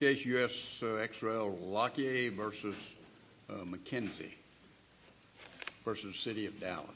Case US-XL Lockheed v. McKenzie v. City of Dallas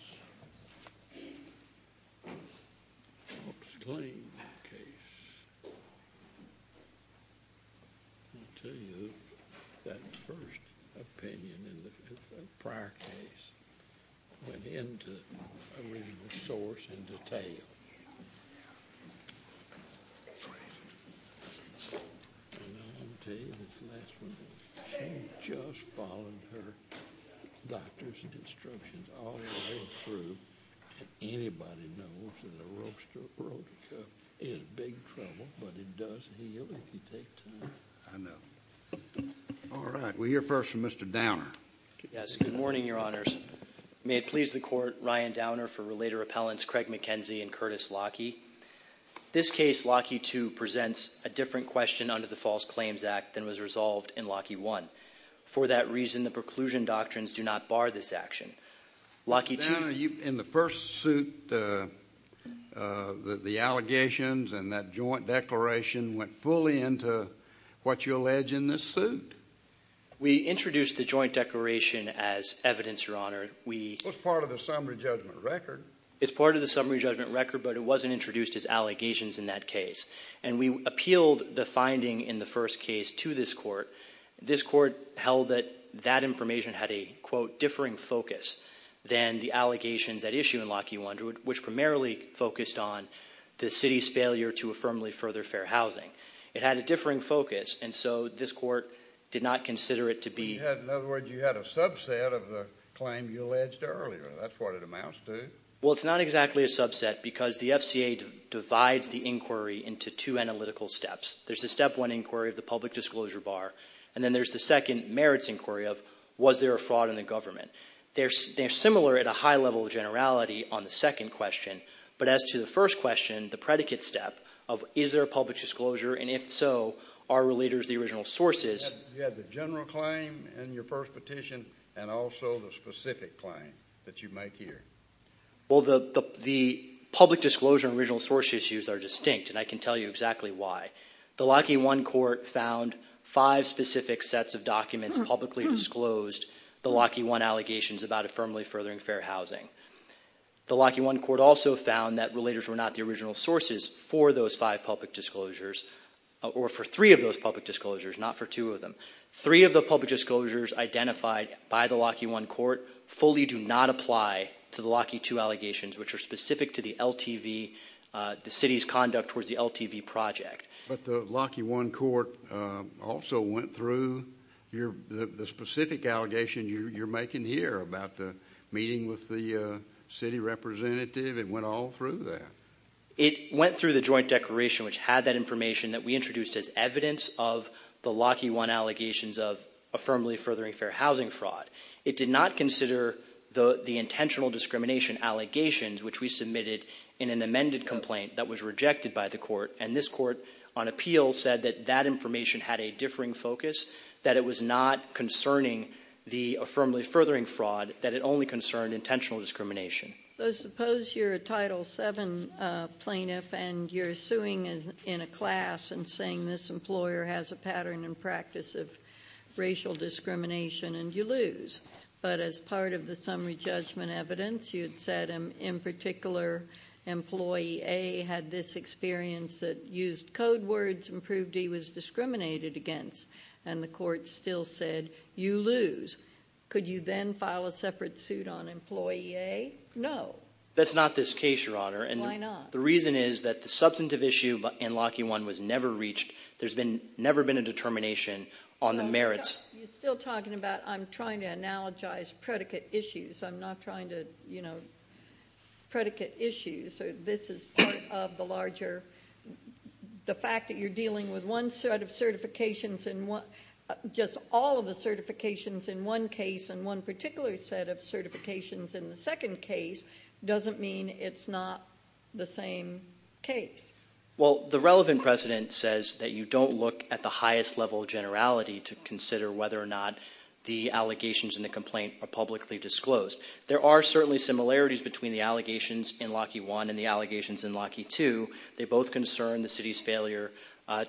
Good morning, Your Honors. May it please the Court, Ryan Downer for Relator Appellants Craig McKenzie and Curtis Lockheed. This case, Lockheed II, presents a different question under the False Claims Act than was resolved in Lockheed I. For that reason, the preclusion doctrines do not bar this action. Lockheed II... Mr. Downer, in the first suit, the allegations and that joint declaration went fully into what you allege in this suit? We introduced the joint declaration as evidence, Your Honor. It was part of the summary judgment record. It's part of the summary judgment record, but it wasn't introduced as allegations in that case. And we appealed the finding in the first case to this Court. This Court held that that information had a, quote, differing focus than the allegations at issue in Lockheed I, which primarily focused on the City's failure to affirmably further fair housing. It had a differing focus, and so this Court did not consider it to be... In other words, you had a subset of the claim you alleged earlier. That's what it amounts to. Well, it's not exactly a subset because the FCA divides the inquiry into two analytical steps. There's the step one inquiry of the public disclosure bar, and then there's the second merits inquiry of was there a fraud in the government. They're similar at a high level of generality on the second question, but as to the first question, the predicate step of is there a public disclosure, and if so, are relators the original sources... You had the general claim in your first petition, and also the specific claim that you make here. Well, the public disclosure and original source issues are distinct, and I can tell you exactly why. The Lockheed I Court found five specific sets of documents publicly disclosed the Lockheed I allegations about affirmably furthering fair housing. The Lockheed I Court also found that relators were not the original sources for those five public disclosures, or for three of those public disclosures, not for two of them. Three of the public disclosures identified by the Lockheed I Court fully do not apply to the Lockheed II allegations, which are specific to the LTV, the city's conduct towards the LTV project. But the Lockheed I Court also went through the specific allegation you're making here about the meeting with the city representative. It went all through that. It went through the joint declaration, which had that information that we introduced as evidence of the Lockheed I allegations of affirmably furthering fair housing fraud. It did not consider the intentional discrimination allegations, which we submitted in an amended complaint that was rejected by the Court, and this Court on appeal said that that information had a differing focus, that it was not concerning the affirmably furthering fraud, that it only concerned intentional discrimination. So suppose you're a Title VII plaintiff and you're suing in a class and saying this employer has a pattern and practice of racial discrimination and you lose. But as part of the summary judgment evidence, you had said, in particular, employee A had this experience that used code words and proved he was discriminated against, and the Court still said you lose. Could you then file a separate suit on employee A? No. That's not this case, Your Honor. Why not? The reason is that the substantive issue in Lockheed I was never reached. There's never been a determination on the merits. You're still talking about I'm trying to analogize predicate issues. I'm not trying to predicate issues. This is part of the larger, the fact that you're dealing with one set of certifications and just all of the certifications in one case and one particular set of certifications in the second case doesn't mean it's not the same case. Well, the relevant precedent says that you don't look at the highest level of generality to consider whether or not the allegations in the complaint are publicly disclosed. There are certainly similarities between the allegations in Lockheed I and the allegations in Lockheed II. They both concern the city's failure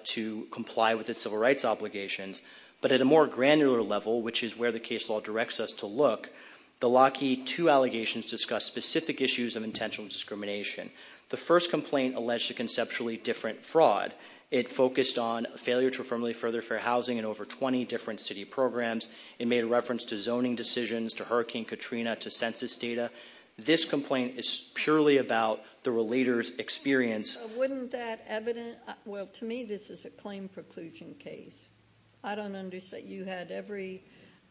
to comply with its civil rights obligations. But at a more granular level, which is where the case law directs us to look, the Lockheed II allegations discuss specific issues of intentional discrimination. The first complaint alleged a conceptually different fraud. It focused on failure to affirmably further fair housing in over 20 different city programs. It made reference to zoning decisions, to Hurricane Katrina, to census data. This complaint is purely about the relator's experience. Wouldn't that evidence, well to me this is a claim preclusion case. I don't understand, you had every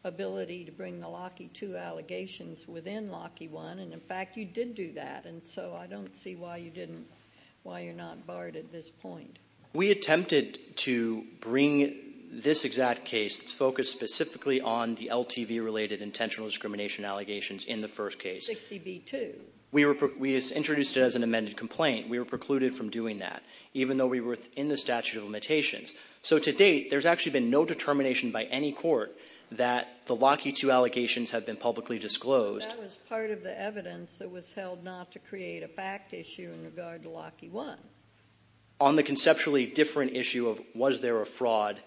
ability to bring the Lockheed II allegations within Lockheed I and in fact you did do that and so I don't see why you didn't, why you're not barred at this point. We attempted to bring this exact case that's focused specifically on the LTV related intentional discrimination allegations in the first case. 60B2. We introduced it as an amended complaint. We were precluded from doing that even though we were in the statute of limitations. So to date there's actually been no determination by any court that the Lockheed II allegations have been publicly disclosed. That was part of the evidence that was held not to create a fact issue in regard to Lockheed I. On the conceptually different issue of was there a fraud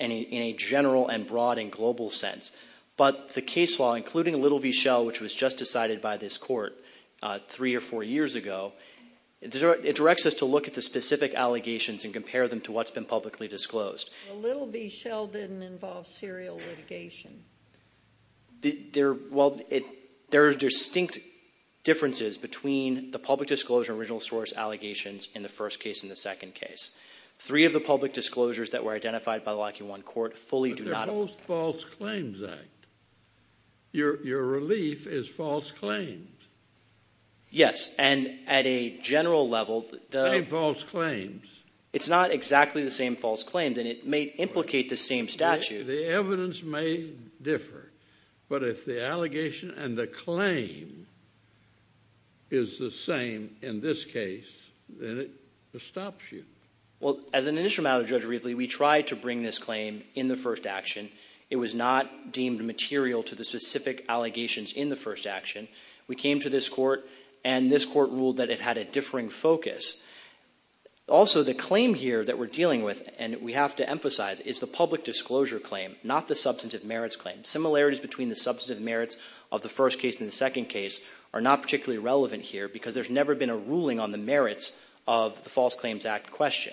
in a general and broad and global sense. But the case law, including Little v. Schell, which was just decided by this court three or four years ago, it directs us to look at the specific allegations and compare them to what's been publicly disclosed. Little v. Schell didn't involve serial litigation. There are distinct differences between the public disclosure original source allegations in the first case and the second case. Three of the public disclosures that were identified by the Lockheed I court fully do not. Both false claims act. Your relief is false claims. Yes. And at a general level. Any false claims. It's not exactly the same false claims. And it may implicate the same statute. The evidence may differ. But if the allegation and the claim is the same in this case, then it stops you. Well, as an initial matter, Judge Riefle, we tried to bring this claim in the first action. It was not deemed material to the specific allegations in the first action. We came to this court and this court ruled that it had a differing focus. Also, the claim here that we're dealing with, and we have to emphasize, is the public disclosure claim, not the substantive merits claim. Similarities between the substantive merits of the first case and the second case are not particularly relevant here because there's never been a ruling on the merits of the False Claims Act question.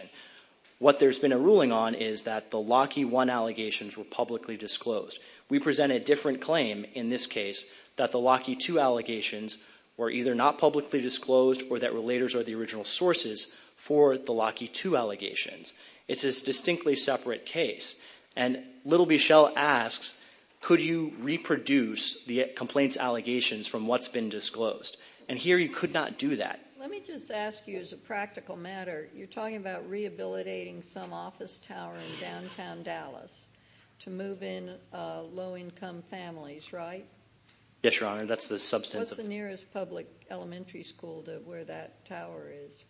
What there's been a ruling on is that the Lockheed I allegations were publicly disclosed. We present a different claim in this case that the Lockheed II allegations were either not publicly disclosed or that relators are the original sources for the Lockheed II allegations. It's a distinctly separate case. And little Michel asks, could you reproduce the complaints allegations from what's been disclosed? And here you could not do that. Let me just ask you as a practical matter, you're talking about rehabilitating some office tower in downtown Dallas to move in low-income families, right? Yes, Your Honor, that's the substantive... What's the nearest public elementary school to where that tower is?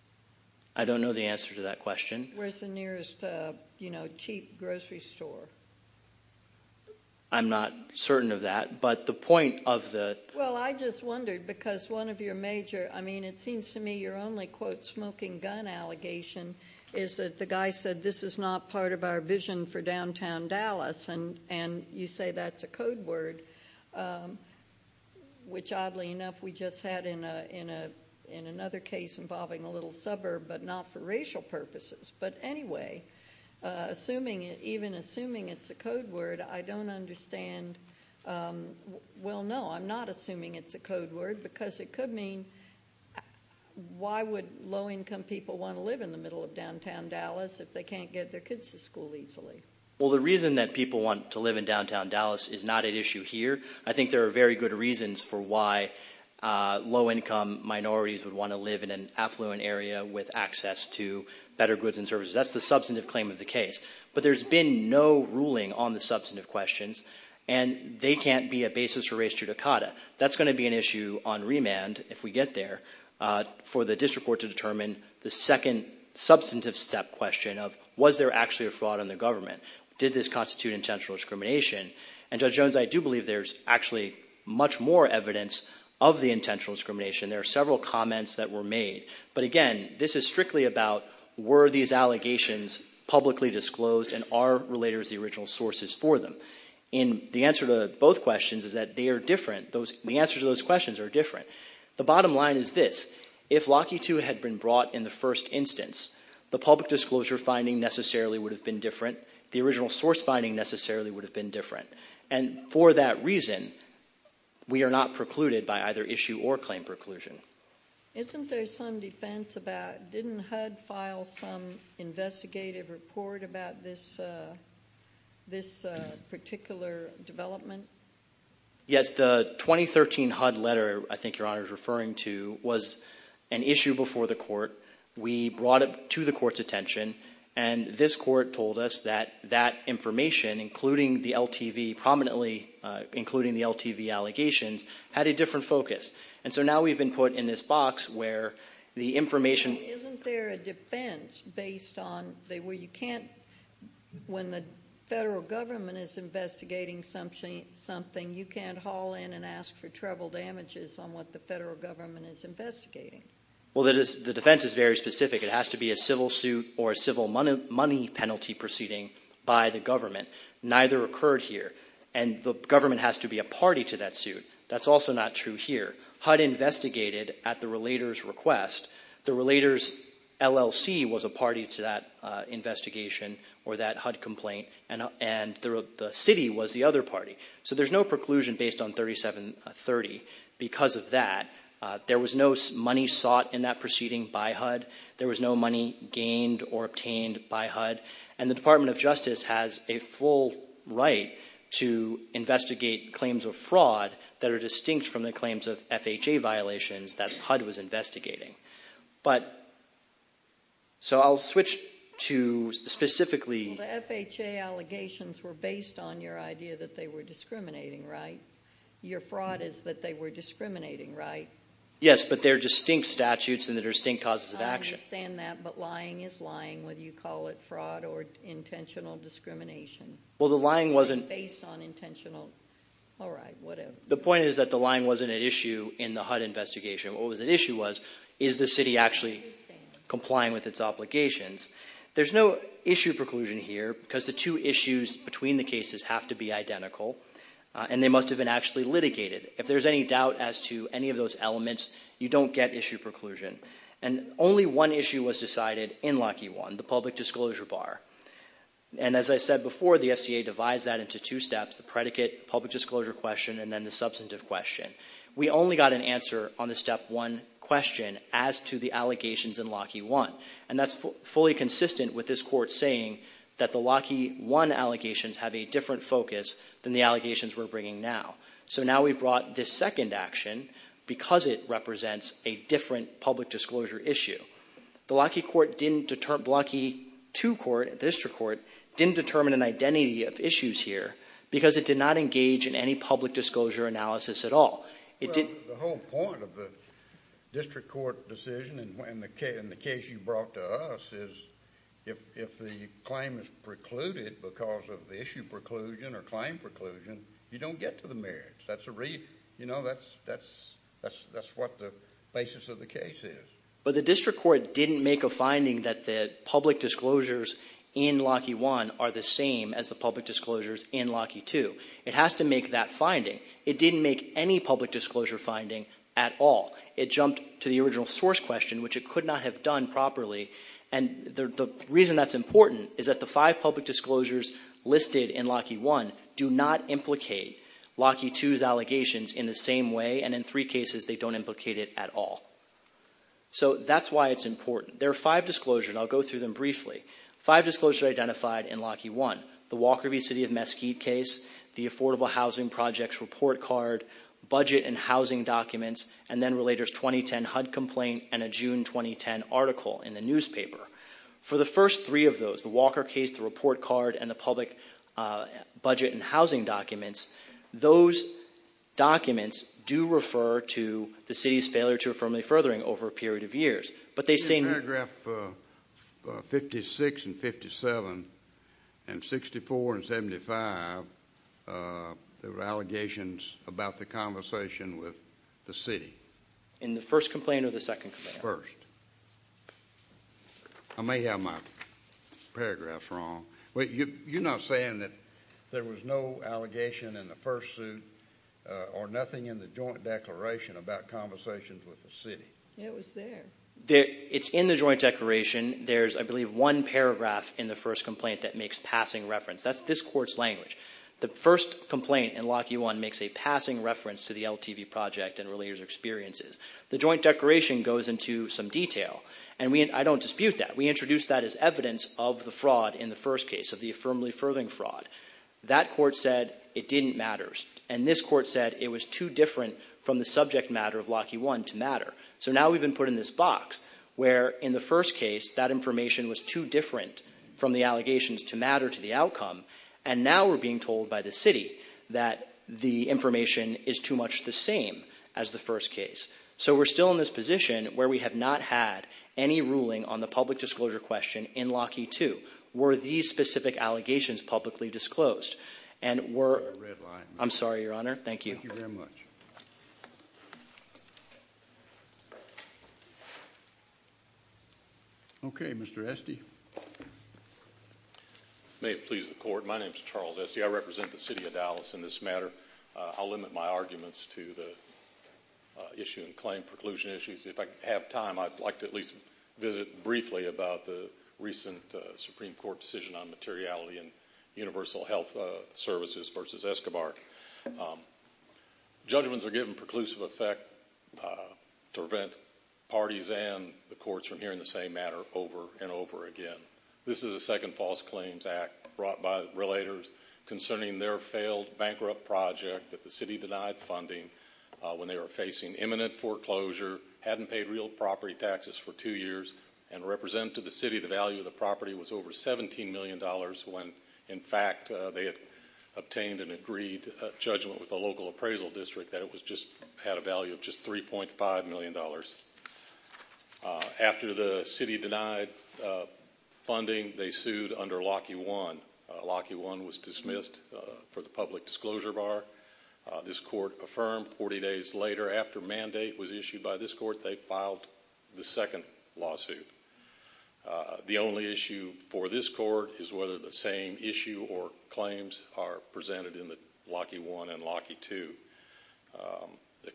I don't know the answer to that question. Where's the nearest, you know, cheap grocery store? I'm not certain of that, but the point of the... Well, I just wondered, because one of your major... I mean, it seems to me your only, quote, smoking gun allegation is that the guy said, this is not part of our vision for downtown Dallas, and you say that's a code word, which, oddly enough, we just had in another case involving a little suburb, but not for racial purposes. But anyway, even assuming it's a code word, I don't understand... Well, no, I'm not assuming it's a code word, because it could mean... Why would low-income people want to live in the middle of downtown Dallas if they can't get their kids to school easily? Well, the reason that people want to live in downtown Dallas is not at issue here. I think there are very good reasons for why low-income minorities would want to live in an affluent area with access to better goods and services. That's the substantive claim of the case. But there's been no ruling on the substantive questions, and they can't be a basis for race judicata. That's going to be an issue on remand, if we get there, for the district court to determine the second substantive step question of, was there actually a fraud in the government? Did this constitute intentional discrimination? And, Judge Jones, I do believe there's actually much more evidence of the intentional discrimination. There are several comments that were made. But again, this is strictly about were these allegations publicly disclosed and are relators the original sources for them? The answer to both questions is that they are different. The answers to those questions are different. The bottom line is this. If Lockheed II had been brought in the first instance, the public disclosure finding necessarily would have been different. The original source finding necessarily would have been different. And for that reason, we are not precluded by either issue or claim preclusion. Isn't there some defense about, didn't HUD file some investigative report about this particular development? Yes. The 2013 HUD letter I think Your Honor is referring to was an issue before the court. We brought it to the court's attention, and this court told us that that information, including the LTV prominently, including the LTV allegations, had a different focus. And so now we've been put in this box where the information Isn't there a defense based on where you can't, when the federal government is investigating something, you can't haul in and ask for treble damages on what the federal government is investigating? Well, the defense is very specific. It has to be a civil suit or a civil money penalty proceeding by the government. Neither occurred here. And the government has to be a party to that suit. That's also not true here. HUD investigated at the relator's request. The relator's LLC was a party to that investigation or that HUD complaint, and the city was the other party. So there's no preclusion based on 3730 because of that. There was no money sought in that proceeding by HUD. There was no money gained or obtained by HUD. And the Department of Justice has a full right to investigate claims of fraud that are distinct from the claims of FHA violations that HUD was investigating. But so I'll switch to specifically. Well, the FHA allegations were based on your idea that they were discriminating, right? Your fraud is that they were discriminating, right? Yes, but they're distinct statutes and they're distinct causes of action. I understand that, but lying is lying whether you call it fraud or intentional discrimination. Well, the lying wasn't. It wasn't based on intentional. All right, whatever. The point is that the lying wasn't at issue in the HUD investigation. What was at issue was is the city actually complying with its obligations. There's no issue preclusion here because the two issues between the cases have to be identical, and they must have been actually litigated. If there's any doubt as to any of those elements, you don't get issue preclusion. And only one issue was decided in Lockheed One, the public disclosure bar. And as I said before, the FHA divides that into two steps, the predicate, public disclosure question, and then the substantive question. We only got an answer on the step one question as to the allegations in Lockheed One, and that's fully consistent with this Court saying that the Lockheed One allegations have a different focus than the allegations we're bringing now. So now we've brought this second action because it represents a different public disclosure issue. The Lockheed Court didn't determine an identity of issues here because it did not engage in any public disclosure analysis at all. The whole point of the district court decision and the case you brought to us is if the claim is precluded because of the issue preclusion or claim preclusion, you don't get to the merits. That's what the basis of the case is. But the district court didn't make a finding that the public disclosures in Lockheed One are the same as the public disclosures in Lockheed Two. It has to make that finding. It didn't make any public disclosure finding at all. It jumped to the original source question, which it could not have done properly. And the reason that's important is that the five public disclosures listed in Lockheed One do not implicate Lockheed Two's allegations in the same way, and in three cases they don't implicate it at all. So that's why it's important. There are five disclosures, and I'll go through them briefly. Five disclosures identified in Lockheed One, the Walker v. City of Mesquite case, the Affordable Housing Projects report card, budget and housing documents, and then Relators 2010 HUD complaint and a June 2010 article in the newspaper. For the first three of those, the Walker case, the report card, and the public budget and housing documents, those documents do refer to the city's failure to affirm the furthering over a period of years. But they seem to have. In paragraph 56 and 57 and 64 and 75, there were allegations about the conversation with the city. In the first complaint or the second complaint? First. I may have my paragraphs wrong. You're not saying that there was no allegation in the first suit or nothing in the joint declaration about conversations with the city? It was there. It's in the joint declaration. There's, I believe, one paragraph in the first complaint that makes passing reference. That's this court's language. The first complaint in Lockheed One makes a passing reference to the LTV project and Relators' experiences. The joint declaration goes into some detail, and I don't dispute that. We introduced that as evidence of the fraud in the first case, of the affirmably furthering fraud. That court said it didn't matter. And this court said it was too different from the subject matter of Lockheed One to matter. So now we've been put in this box where, in the first case, that information was too different from the allegations to matter to the outcome, and now we're being told by the city that the information is too much the same as the first case. So we're still in this position where we have not had any ruling on the public disclosure question in Lockheed Two. Were these specific allegations publicly disclosed? I'm sorry, Your Honor. Thank you. Thank you very much. Okay, Mr. Esty. May it please the Court, my name is Charles Esty. I represent the city of Dallas in this matter. I'll limit my arguments to the issue and claim preclusion issues. If I have time, I'd like to at least visit briefly about the recent Supreme Court decision on materiality in Universal Health Services v. Escobar. Judgments are given preclusive effect to prevent parties and the courts from hearing the same matter over and over again. This is a second false claims act brought by relators concerning their failed bankrupt project that the city denied funding when they were facing imminent foreclosure, hadn't paid real property taxes for two years, and represented to the city the value of the property was over $17 million when, in fact, they had obtained an agreed judgment with the local appraisal district that it had a value of just $3.5 million. After the city denied funding, they sued under Lockheed One. Lockheed One was dismissed for the public disclosure bar. This court affirmed 40 days later after mandate was issued by this court, they filed the second lawsuit. The only issue for this court is whether the same issue or claims are presented in the Lockheed One and Lockheed Two. The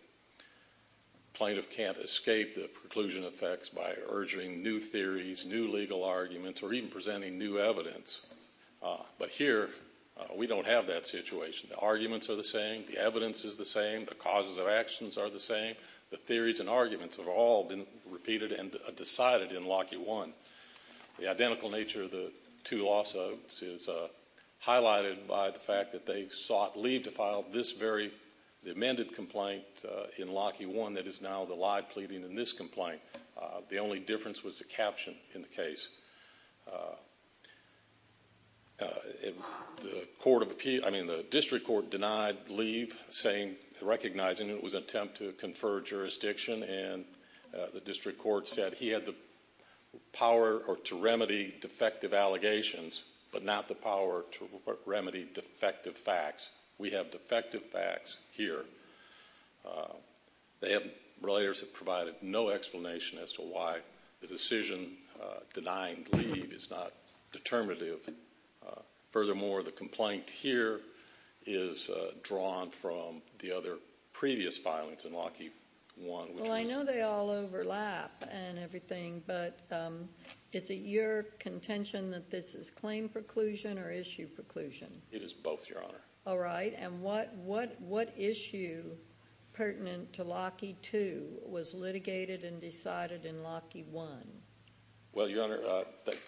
plaintiff can't escape the preclusion effects by urging new theories, new legal arguments, or even presenting new evidence. But here, we don't have that situation. The arguments are the same. The evidence is the same. The causes of actions are the same. The theories and arguments have all been repeated and decided in Lockheed One. The identical nature of the two lawsuits is highlighted by the fact that they sought leave to file this very amended complaint in Lockheed One that is now the live pleading in this complaint. The only difference was the caption in the case. The district court denied leave, recognizing it was an attempt to confer jurisdiction, and the district court said he had the power to remedy defective allegations, but not the power to remedy defective facts. We have defective facts here. The relators have provided no explanation as to why the decision denying leave is not determinative. Furthermore, the complaint here is drawn from the other previous filings in Lockheed One. Well, I know they all overlap and everything, but is it your contention that this is claim preclusion or issue preclusion? It is both, Your Honor. All right, and what issue pertinent to Lockheed Two was litigated and decided in Lockheed One? Well, Your Honor,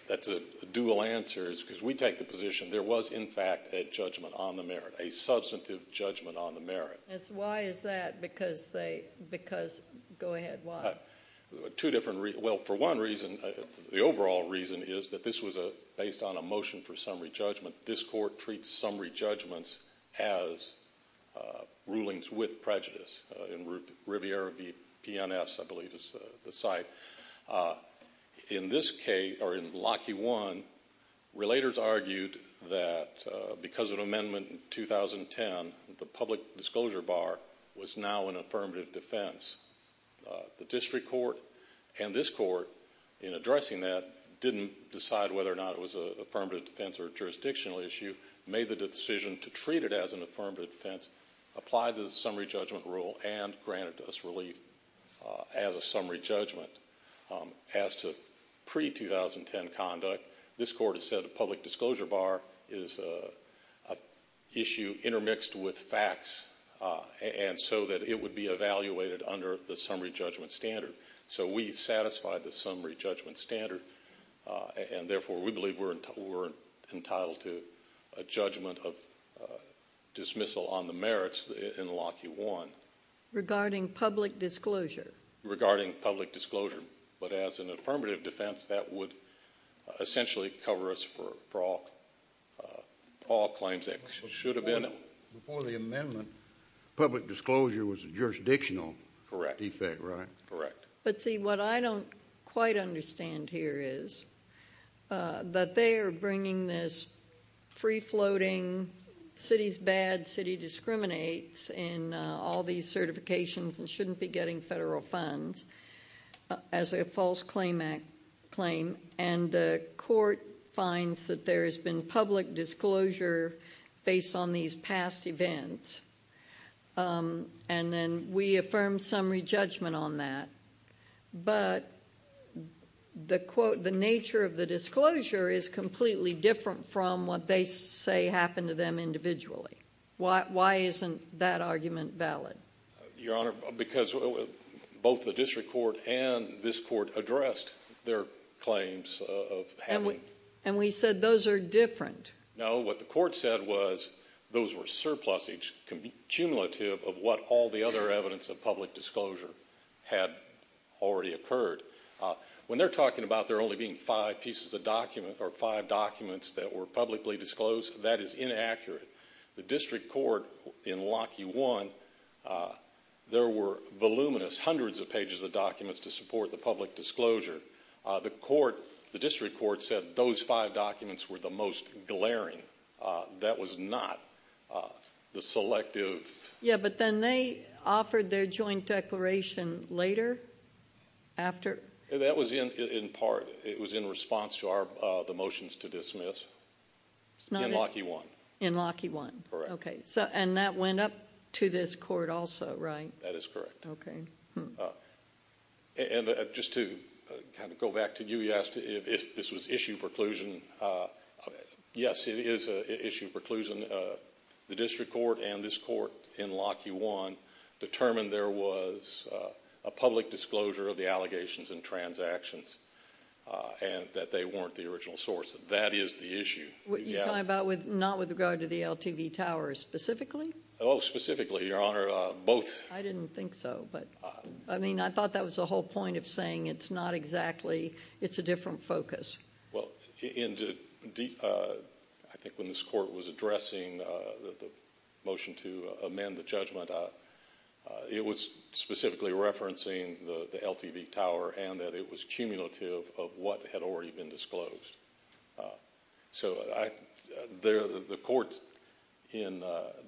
that's a dual answer. It's because we take the position there was, in fact, a judgment on the merit, a substantive judgment on the merit. Why is that? Because they – because – go ahead, why? Two different – well, for one reason, the overall reason is that this was based on a motion for summary judgment. This court treats summary judgments as rulings with prejudice. In Riviera v. PNS, I believe, is the site. In this case – or in Lockheed One, relators argued that because of an amendment in 2010, the public disclosure bar was now an affirmative defense. The district court and this court, in addressing that, didn't decide whether or not it was an affirmative defense or a jurisdictional issue, made the decision to treat it as an affirmative defense, applied the summary judgment rule, and granted us relief as a summary judgment. As to pre-2010 conduct, this court has said a public disclosure bar is an issue intermixed with facts and so that it would be evaluated under the summary judgment standard. So we satisfied the summary judgment standard, and therefore we believe we're entitled to a judgment of dismissal on the merits in Lockheed One. Regarding public disclosure. Regarding public disclosure. But as an affirmative defense, that would essentially cover us for all claims that should have been. Before the amendment, public disclosure was a jurisdictional defect, right? Correct. But see, what I don't quite understand here is that they are bringing this free-floating, city's bad, city discriminates in all these certifications and shouldn't be getting federal funds as a false claim, and the court finds that there has been public disclosure based on these past events. And then we affirm summary judgment on that. But the nature of the disclosure is completely different from what they say happened to them individually. Why isn't that argument valid? Your Honor, because both the district court and this court addressed their claims of having. And we said those are different. No, what the court said was those were surpluses, cumulative of what all the other evidence of public disclosure had already occurred. When they're talking about there only being five pieces of document or five documents that were publicly disclosed, that is inaccurate. The district court in Lockheed One, there were voluminous, hundreds of pages of documents to support the public disclosure. The district court said those five documents were the most glaring. That was not the selective. Yeah, but then they offered their joint declaration later, after. That was in part. It was in response to the motions to dismiss in Lockheed One. In Lockheed One. Correct. Okay, and that went up to this court also, right? That is correct. Okay. And just to kind of go back to you, you asked if this was issue preclusion. Yes, it is an issue preclusion. The district court and this court in Lockheed One determined there was a public disclosure of the allegations and transactions and that they weren't the original source. That is the issue. You're talking about not with regard to the LTV Tower specifically? Oh, specifically, Your Honor, both. I didn't think so. I mean, I thought that was the whole point of saying it's not exactly, it's a different focus. Well, I think when this court was addressing the motion to amend the judgment, it was specifically referencing the LTV Tower and that it was cumulative of what had already been disclosed. So the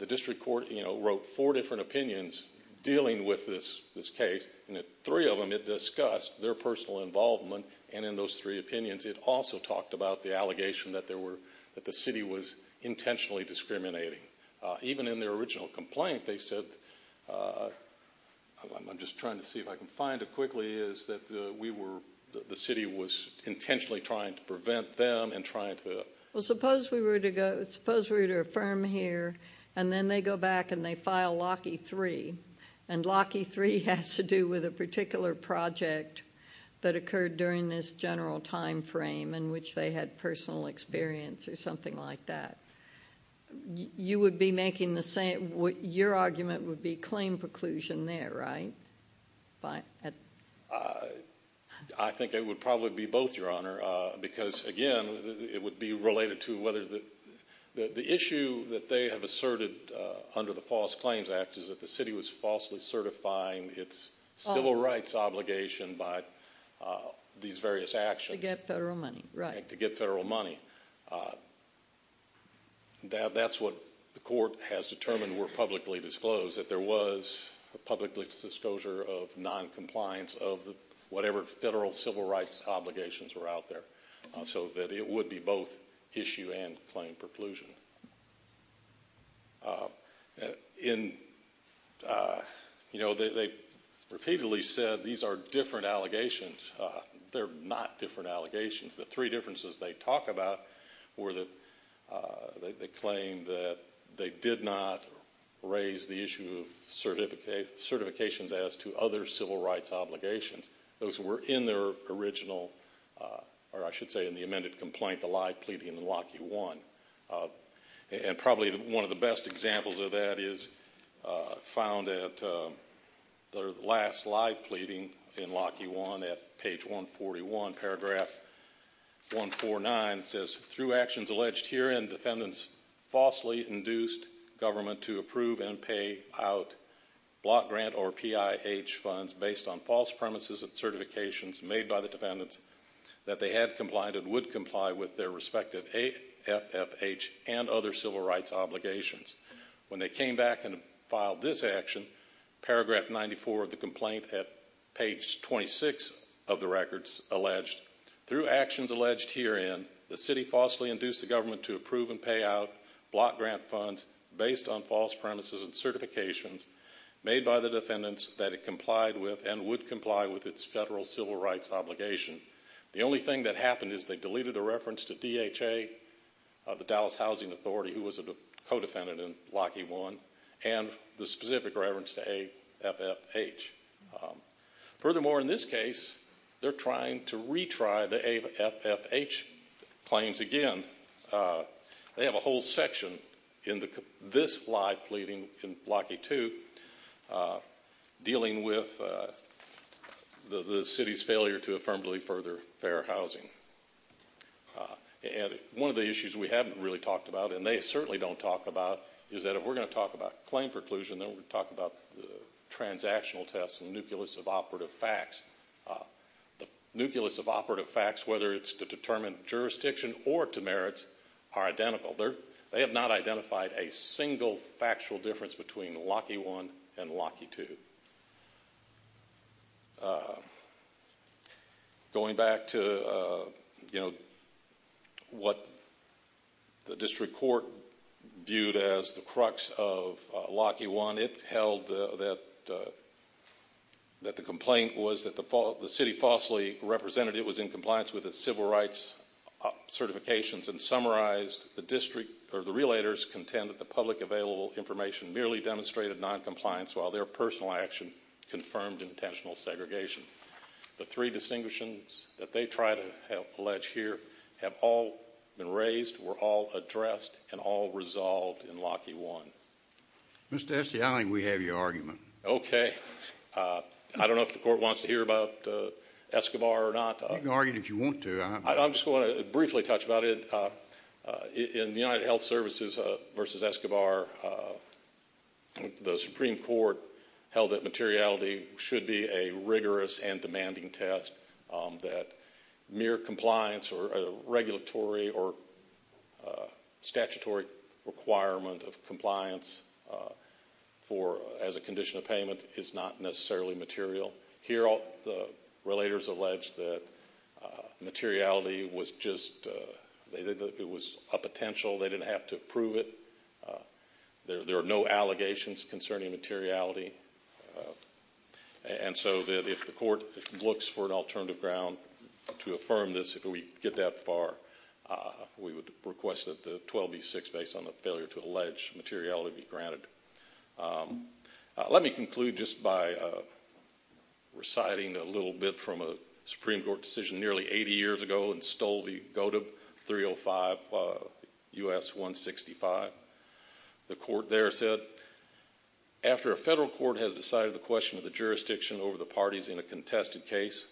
district court wrote four different opinions dealing with this case, and three of them, it discussed their personal involvement, and in those three opinions, it also talked about the allegation that the city was intentionally discriminating. Even in their original complaint, they said, I'm just trying to see if I can find it quickly, that the city was intentionally trying to prevent them and trying to... Well, suppose we were to affirm here, and then they go back and they file Lockheed Three, and Lockheed Three has to do with a particular project that occurred during this general time frame in which they had personal experience or something like that. You would be making the same, your argument would be claim preclusion there, right? I think it would probably be both, Your Honor, because, again, it would be related to whether the issue that they have asserted under the False Claims Act is that the city was falsely certifying its civil rights obligation by these various actions. To get federal money, right. That's what the court has determined were publicly disclosed, that there was a public disclosure of noncompliance of whatever federal civil rights obligations were out there, so that it would be both issue and claim preclusion. They repeatedly said these are different allegations. They're not different allegations. The three differences they talk about were that they claim that they did not raise the issue of certifications as to other civil rights obligations. Those were in their original, or I should say in the amended complaint, the lie pleading in Lockheed One. And probably one of the best examples of that is found at their last lie pleading in Lockheed One at page 141, paragraph 149, it says, Through actions alleged herein, defendants falsely induced government to approve and pay out block grant or PIH funds based on false premises of certifications made by the defendants that they had complied and would comply with their respective FFH and other civil rights obligations. When they came back and filed this action, paragraph 94 of the complaint, at page 26 of the records alleged, Through actions alleged herein, the city falsely induced the government to approve and pay out block grant funds based on false premises and certifications made by the defendants that it complied with and would comply with its federal civil rights obligation. The only thing that happened is they deleted the reference to DHA, the Dallas Housing Authority, who was a co-defendant in Lockheed One, and the specific reference to AFFH. Furthermore, in this case, they're trying to retry the AFFH claims again. They have a whole section in this lie pleading in Lockheed Two, dealing with the city's failure to affirmatively further fair housing. One of the issues we haven't really talked about, and they certainly don't talk about, is that if we're going to talk about claim preclusion, then we're going to talk about transactional tests and the nucleus of operative facts. The nucleus of operative facts, whether it's to determine jurisdiction or to merits, are identical. They have not identified a single factual difference between Lockheed One and Lockheed Two. Going back to what the district court viewed as the crux of Lockheed One, it held that the complaint was that the city falsely represented it was in compliance with its civil rights certifications and summarized the district or the relators contend that the public available information merely demonstrated noncompliance while their personal action confirmed intentional segregation. The three distinctions that they try to allege here have all been raised, were all addressed, and all resolved in Lockheed One. Mr. Esty, I think we have your argument. Okay. I don't know if the court wants to hear about Escobar or not. You can argue it if you want to. I just want to briefly touch about it. In the United Health Services versus Escobar, the Supreme Court held that materiality should be a rigorous and demanding test, that mere compliance or a regulatory or statutory requirement of compliance as a condition of payment is not necessarily material. Here, the relators allege that materiality was just a potential. They didn't have to prove it. There are no allegations concerning materiality. And so if the court looks for an alternative ground to affirm this, if we get that far, we would request that the 12B6, based on the failure to allege materiality, be granted. Let me conclude just by reciting a little bit from a Supreme Court decision nearly 80 years ago and stole the GOTB 305 U.S. 165. The court there said, After a federal court has decided the question of the jurisdiction over the parties in a contested case,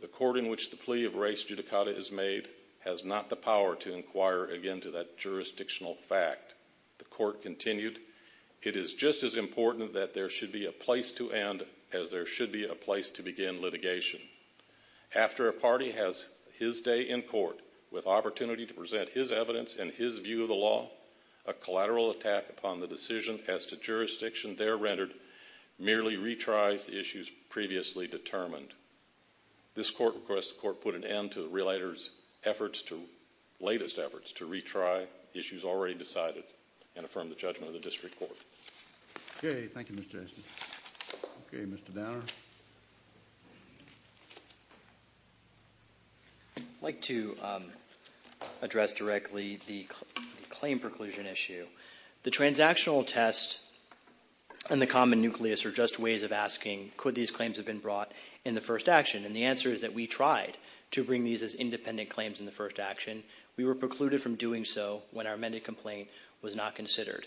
the court in which the plea of race judicata is made has not the power to inquire again to that jurisdictional fact. The court continued, It is just as important that there should be a place to end as there should be a place to begin litigation. After a party has his day in court with opportunity to present his evidence and his view of the law, a collateral attack upon the decision as to jurisdiction there rendered merely retries the issues previously determined. This court requests the court put an end to the relator's latest efforts to retry issues already decided and affirm the judgment of the district court. Okay. Thank you, Mr. Aston. Okay. Mr. Banner. I'd like to address directly the claim preclusion issue. The transactional test and the common nucleus are just ways of asking, Could these claims have been brought in the first action? And the answer is that we tried to bring these as independent claims in the first action. We were precluded from doing so when our amended complaint was not considered.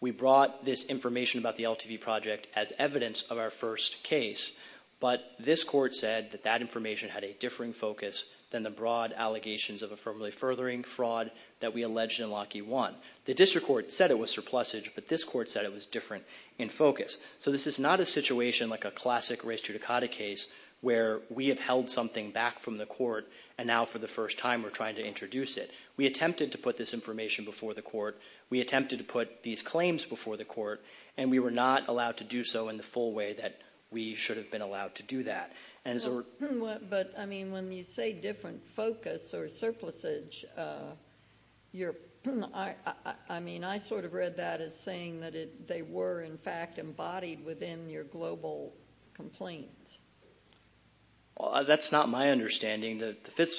We brought this information about the LTV project as evidence of our first case, but this court said that that information had a differing focus than the broad allegations of affirmably furthering fraud that we alleged in Lockheed One. The district court said it was surplusage, but this court said it was different in focus. So this is not a situation like a classic race judicata case where we have held something back from the court and now for the first time we're trying to introduce it. We attempted to put this information before the court. We attempted to put these claims before the court, and we were not allowed to do so in the full way that we should have been allowed to do that. But, I mean, when you say different focus or surplusage, I mean, I sort of read that as saying that they were, in fact, embodied within your global complaints. Well, that's not my understanding. The Fifth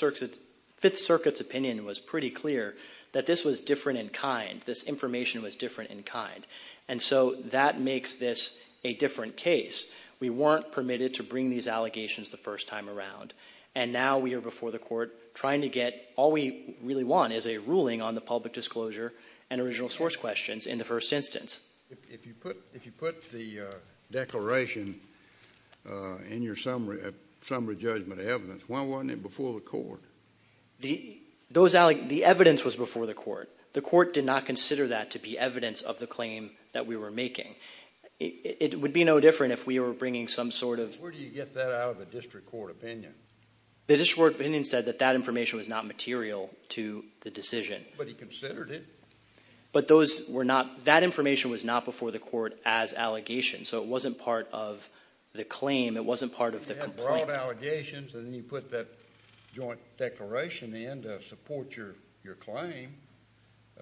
Circuit's opinion was pretty clear that this was different in kind, this information was different in kind. And so that makes this a different case. We weren't permitted to bring these allegations the first time around. And now we are before the court trying to get all we really want is a ruling on the public disclosure and original source questions in the first instance. If you put the declaration in your summary judgment evidence, why wasn't it before the court? The evidence was before the court. The court did not consider that to be evidence of the claim that we were making. It would be no different if we were bringing some sort of— Where do you get that out of the district court opinion? The district court opinion said that that information was not material to the decision. But he considered it. But those were not—that information was not before the court as allegations. So it wasn't part of the claim. It wasn't part of the complaint. You had broad allegations, and then you put that joint declaration in to support your claim.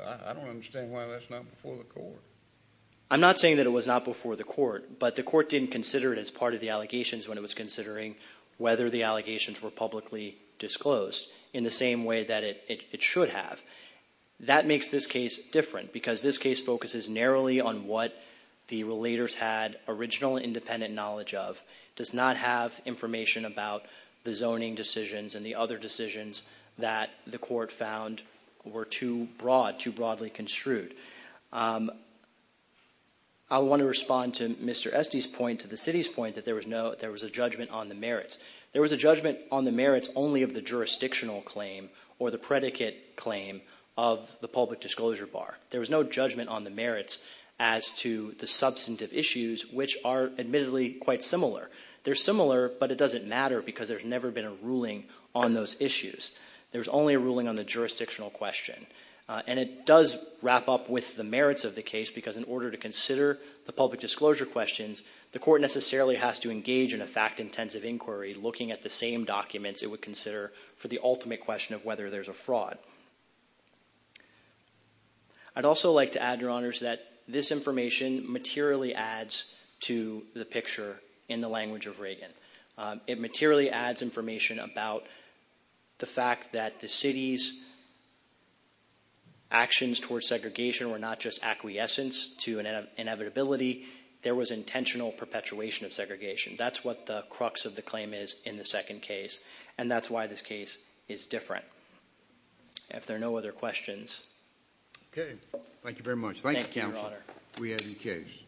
I don't understand why that's not before the court. I'm not saying that it was not before the court, but the court didn't consider it as part of the allegations when it was considering whether the allegations were publicly disclosed in the same way that it should have. That makes this case different, because this case focuses narrowly on what the relators had original independent knowledge of, does not have information about the zoning decisions and the other decisions that the court found were too broad, too broadly construed. I want to respond to Mr. Esty's point, to the city's point, that there was a judgment on the merits. There was a judgment on the merits only of the jurisdictional claim or the predicate claim of the public disclosure bar. There was no judgment on the merits as to the substantive issues, which are admittedly quite similar. They're similar, but it doesn't matter because there's never been a ruling on those issues. There's only a ruling on the jurisdictional question. And it does wrap up with the merits of the case, because in order to consider the public disclosure questions, the court necessarily has to engage in a fact-intensive inquiry looking at the same documents it would consider for the ultimate question of whether there's a fraud. I'd also like to add, Your Honors, that this information materially adds to the picture in the language of Reagan. It materially adds information about the fact that the city's actions towards segregation were not just acquiescence to an inevitability. There was intentional perpetuation of segregation. That's what the crux of the claim is in the second case, and that's why this case is different. If there are no other questions... Okay. Thank you very much. Thank you, Counsel. Thank you, Your Honor. We are in case.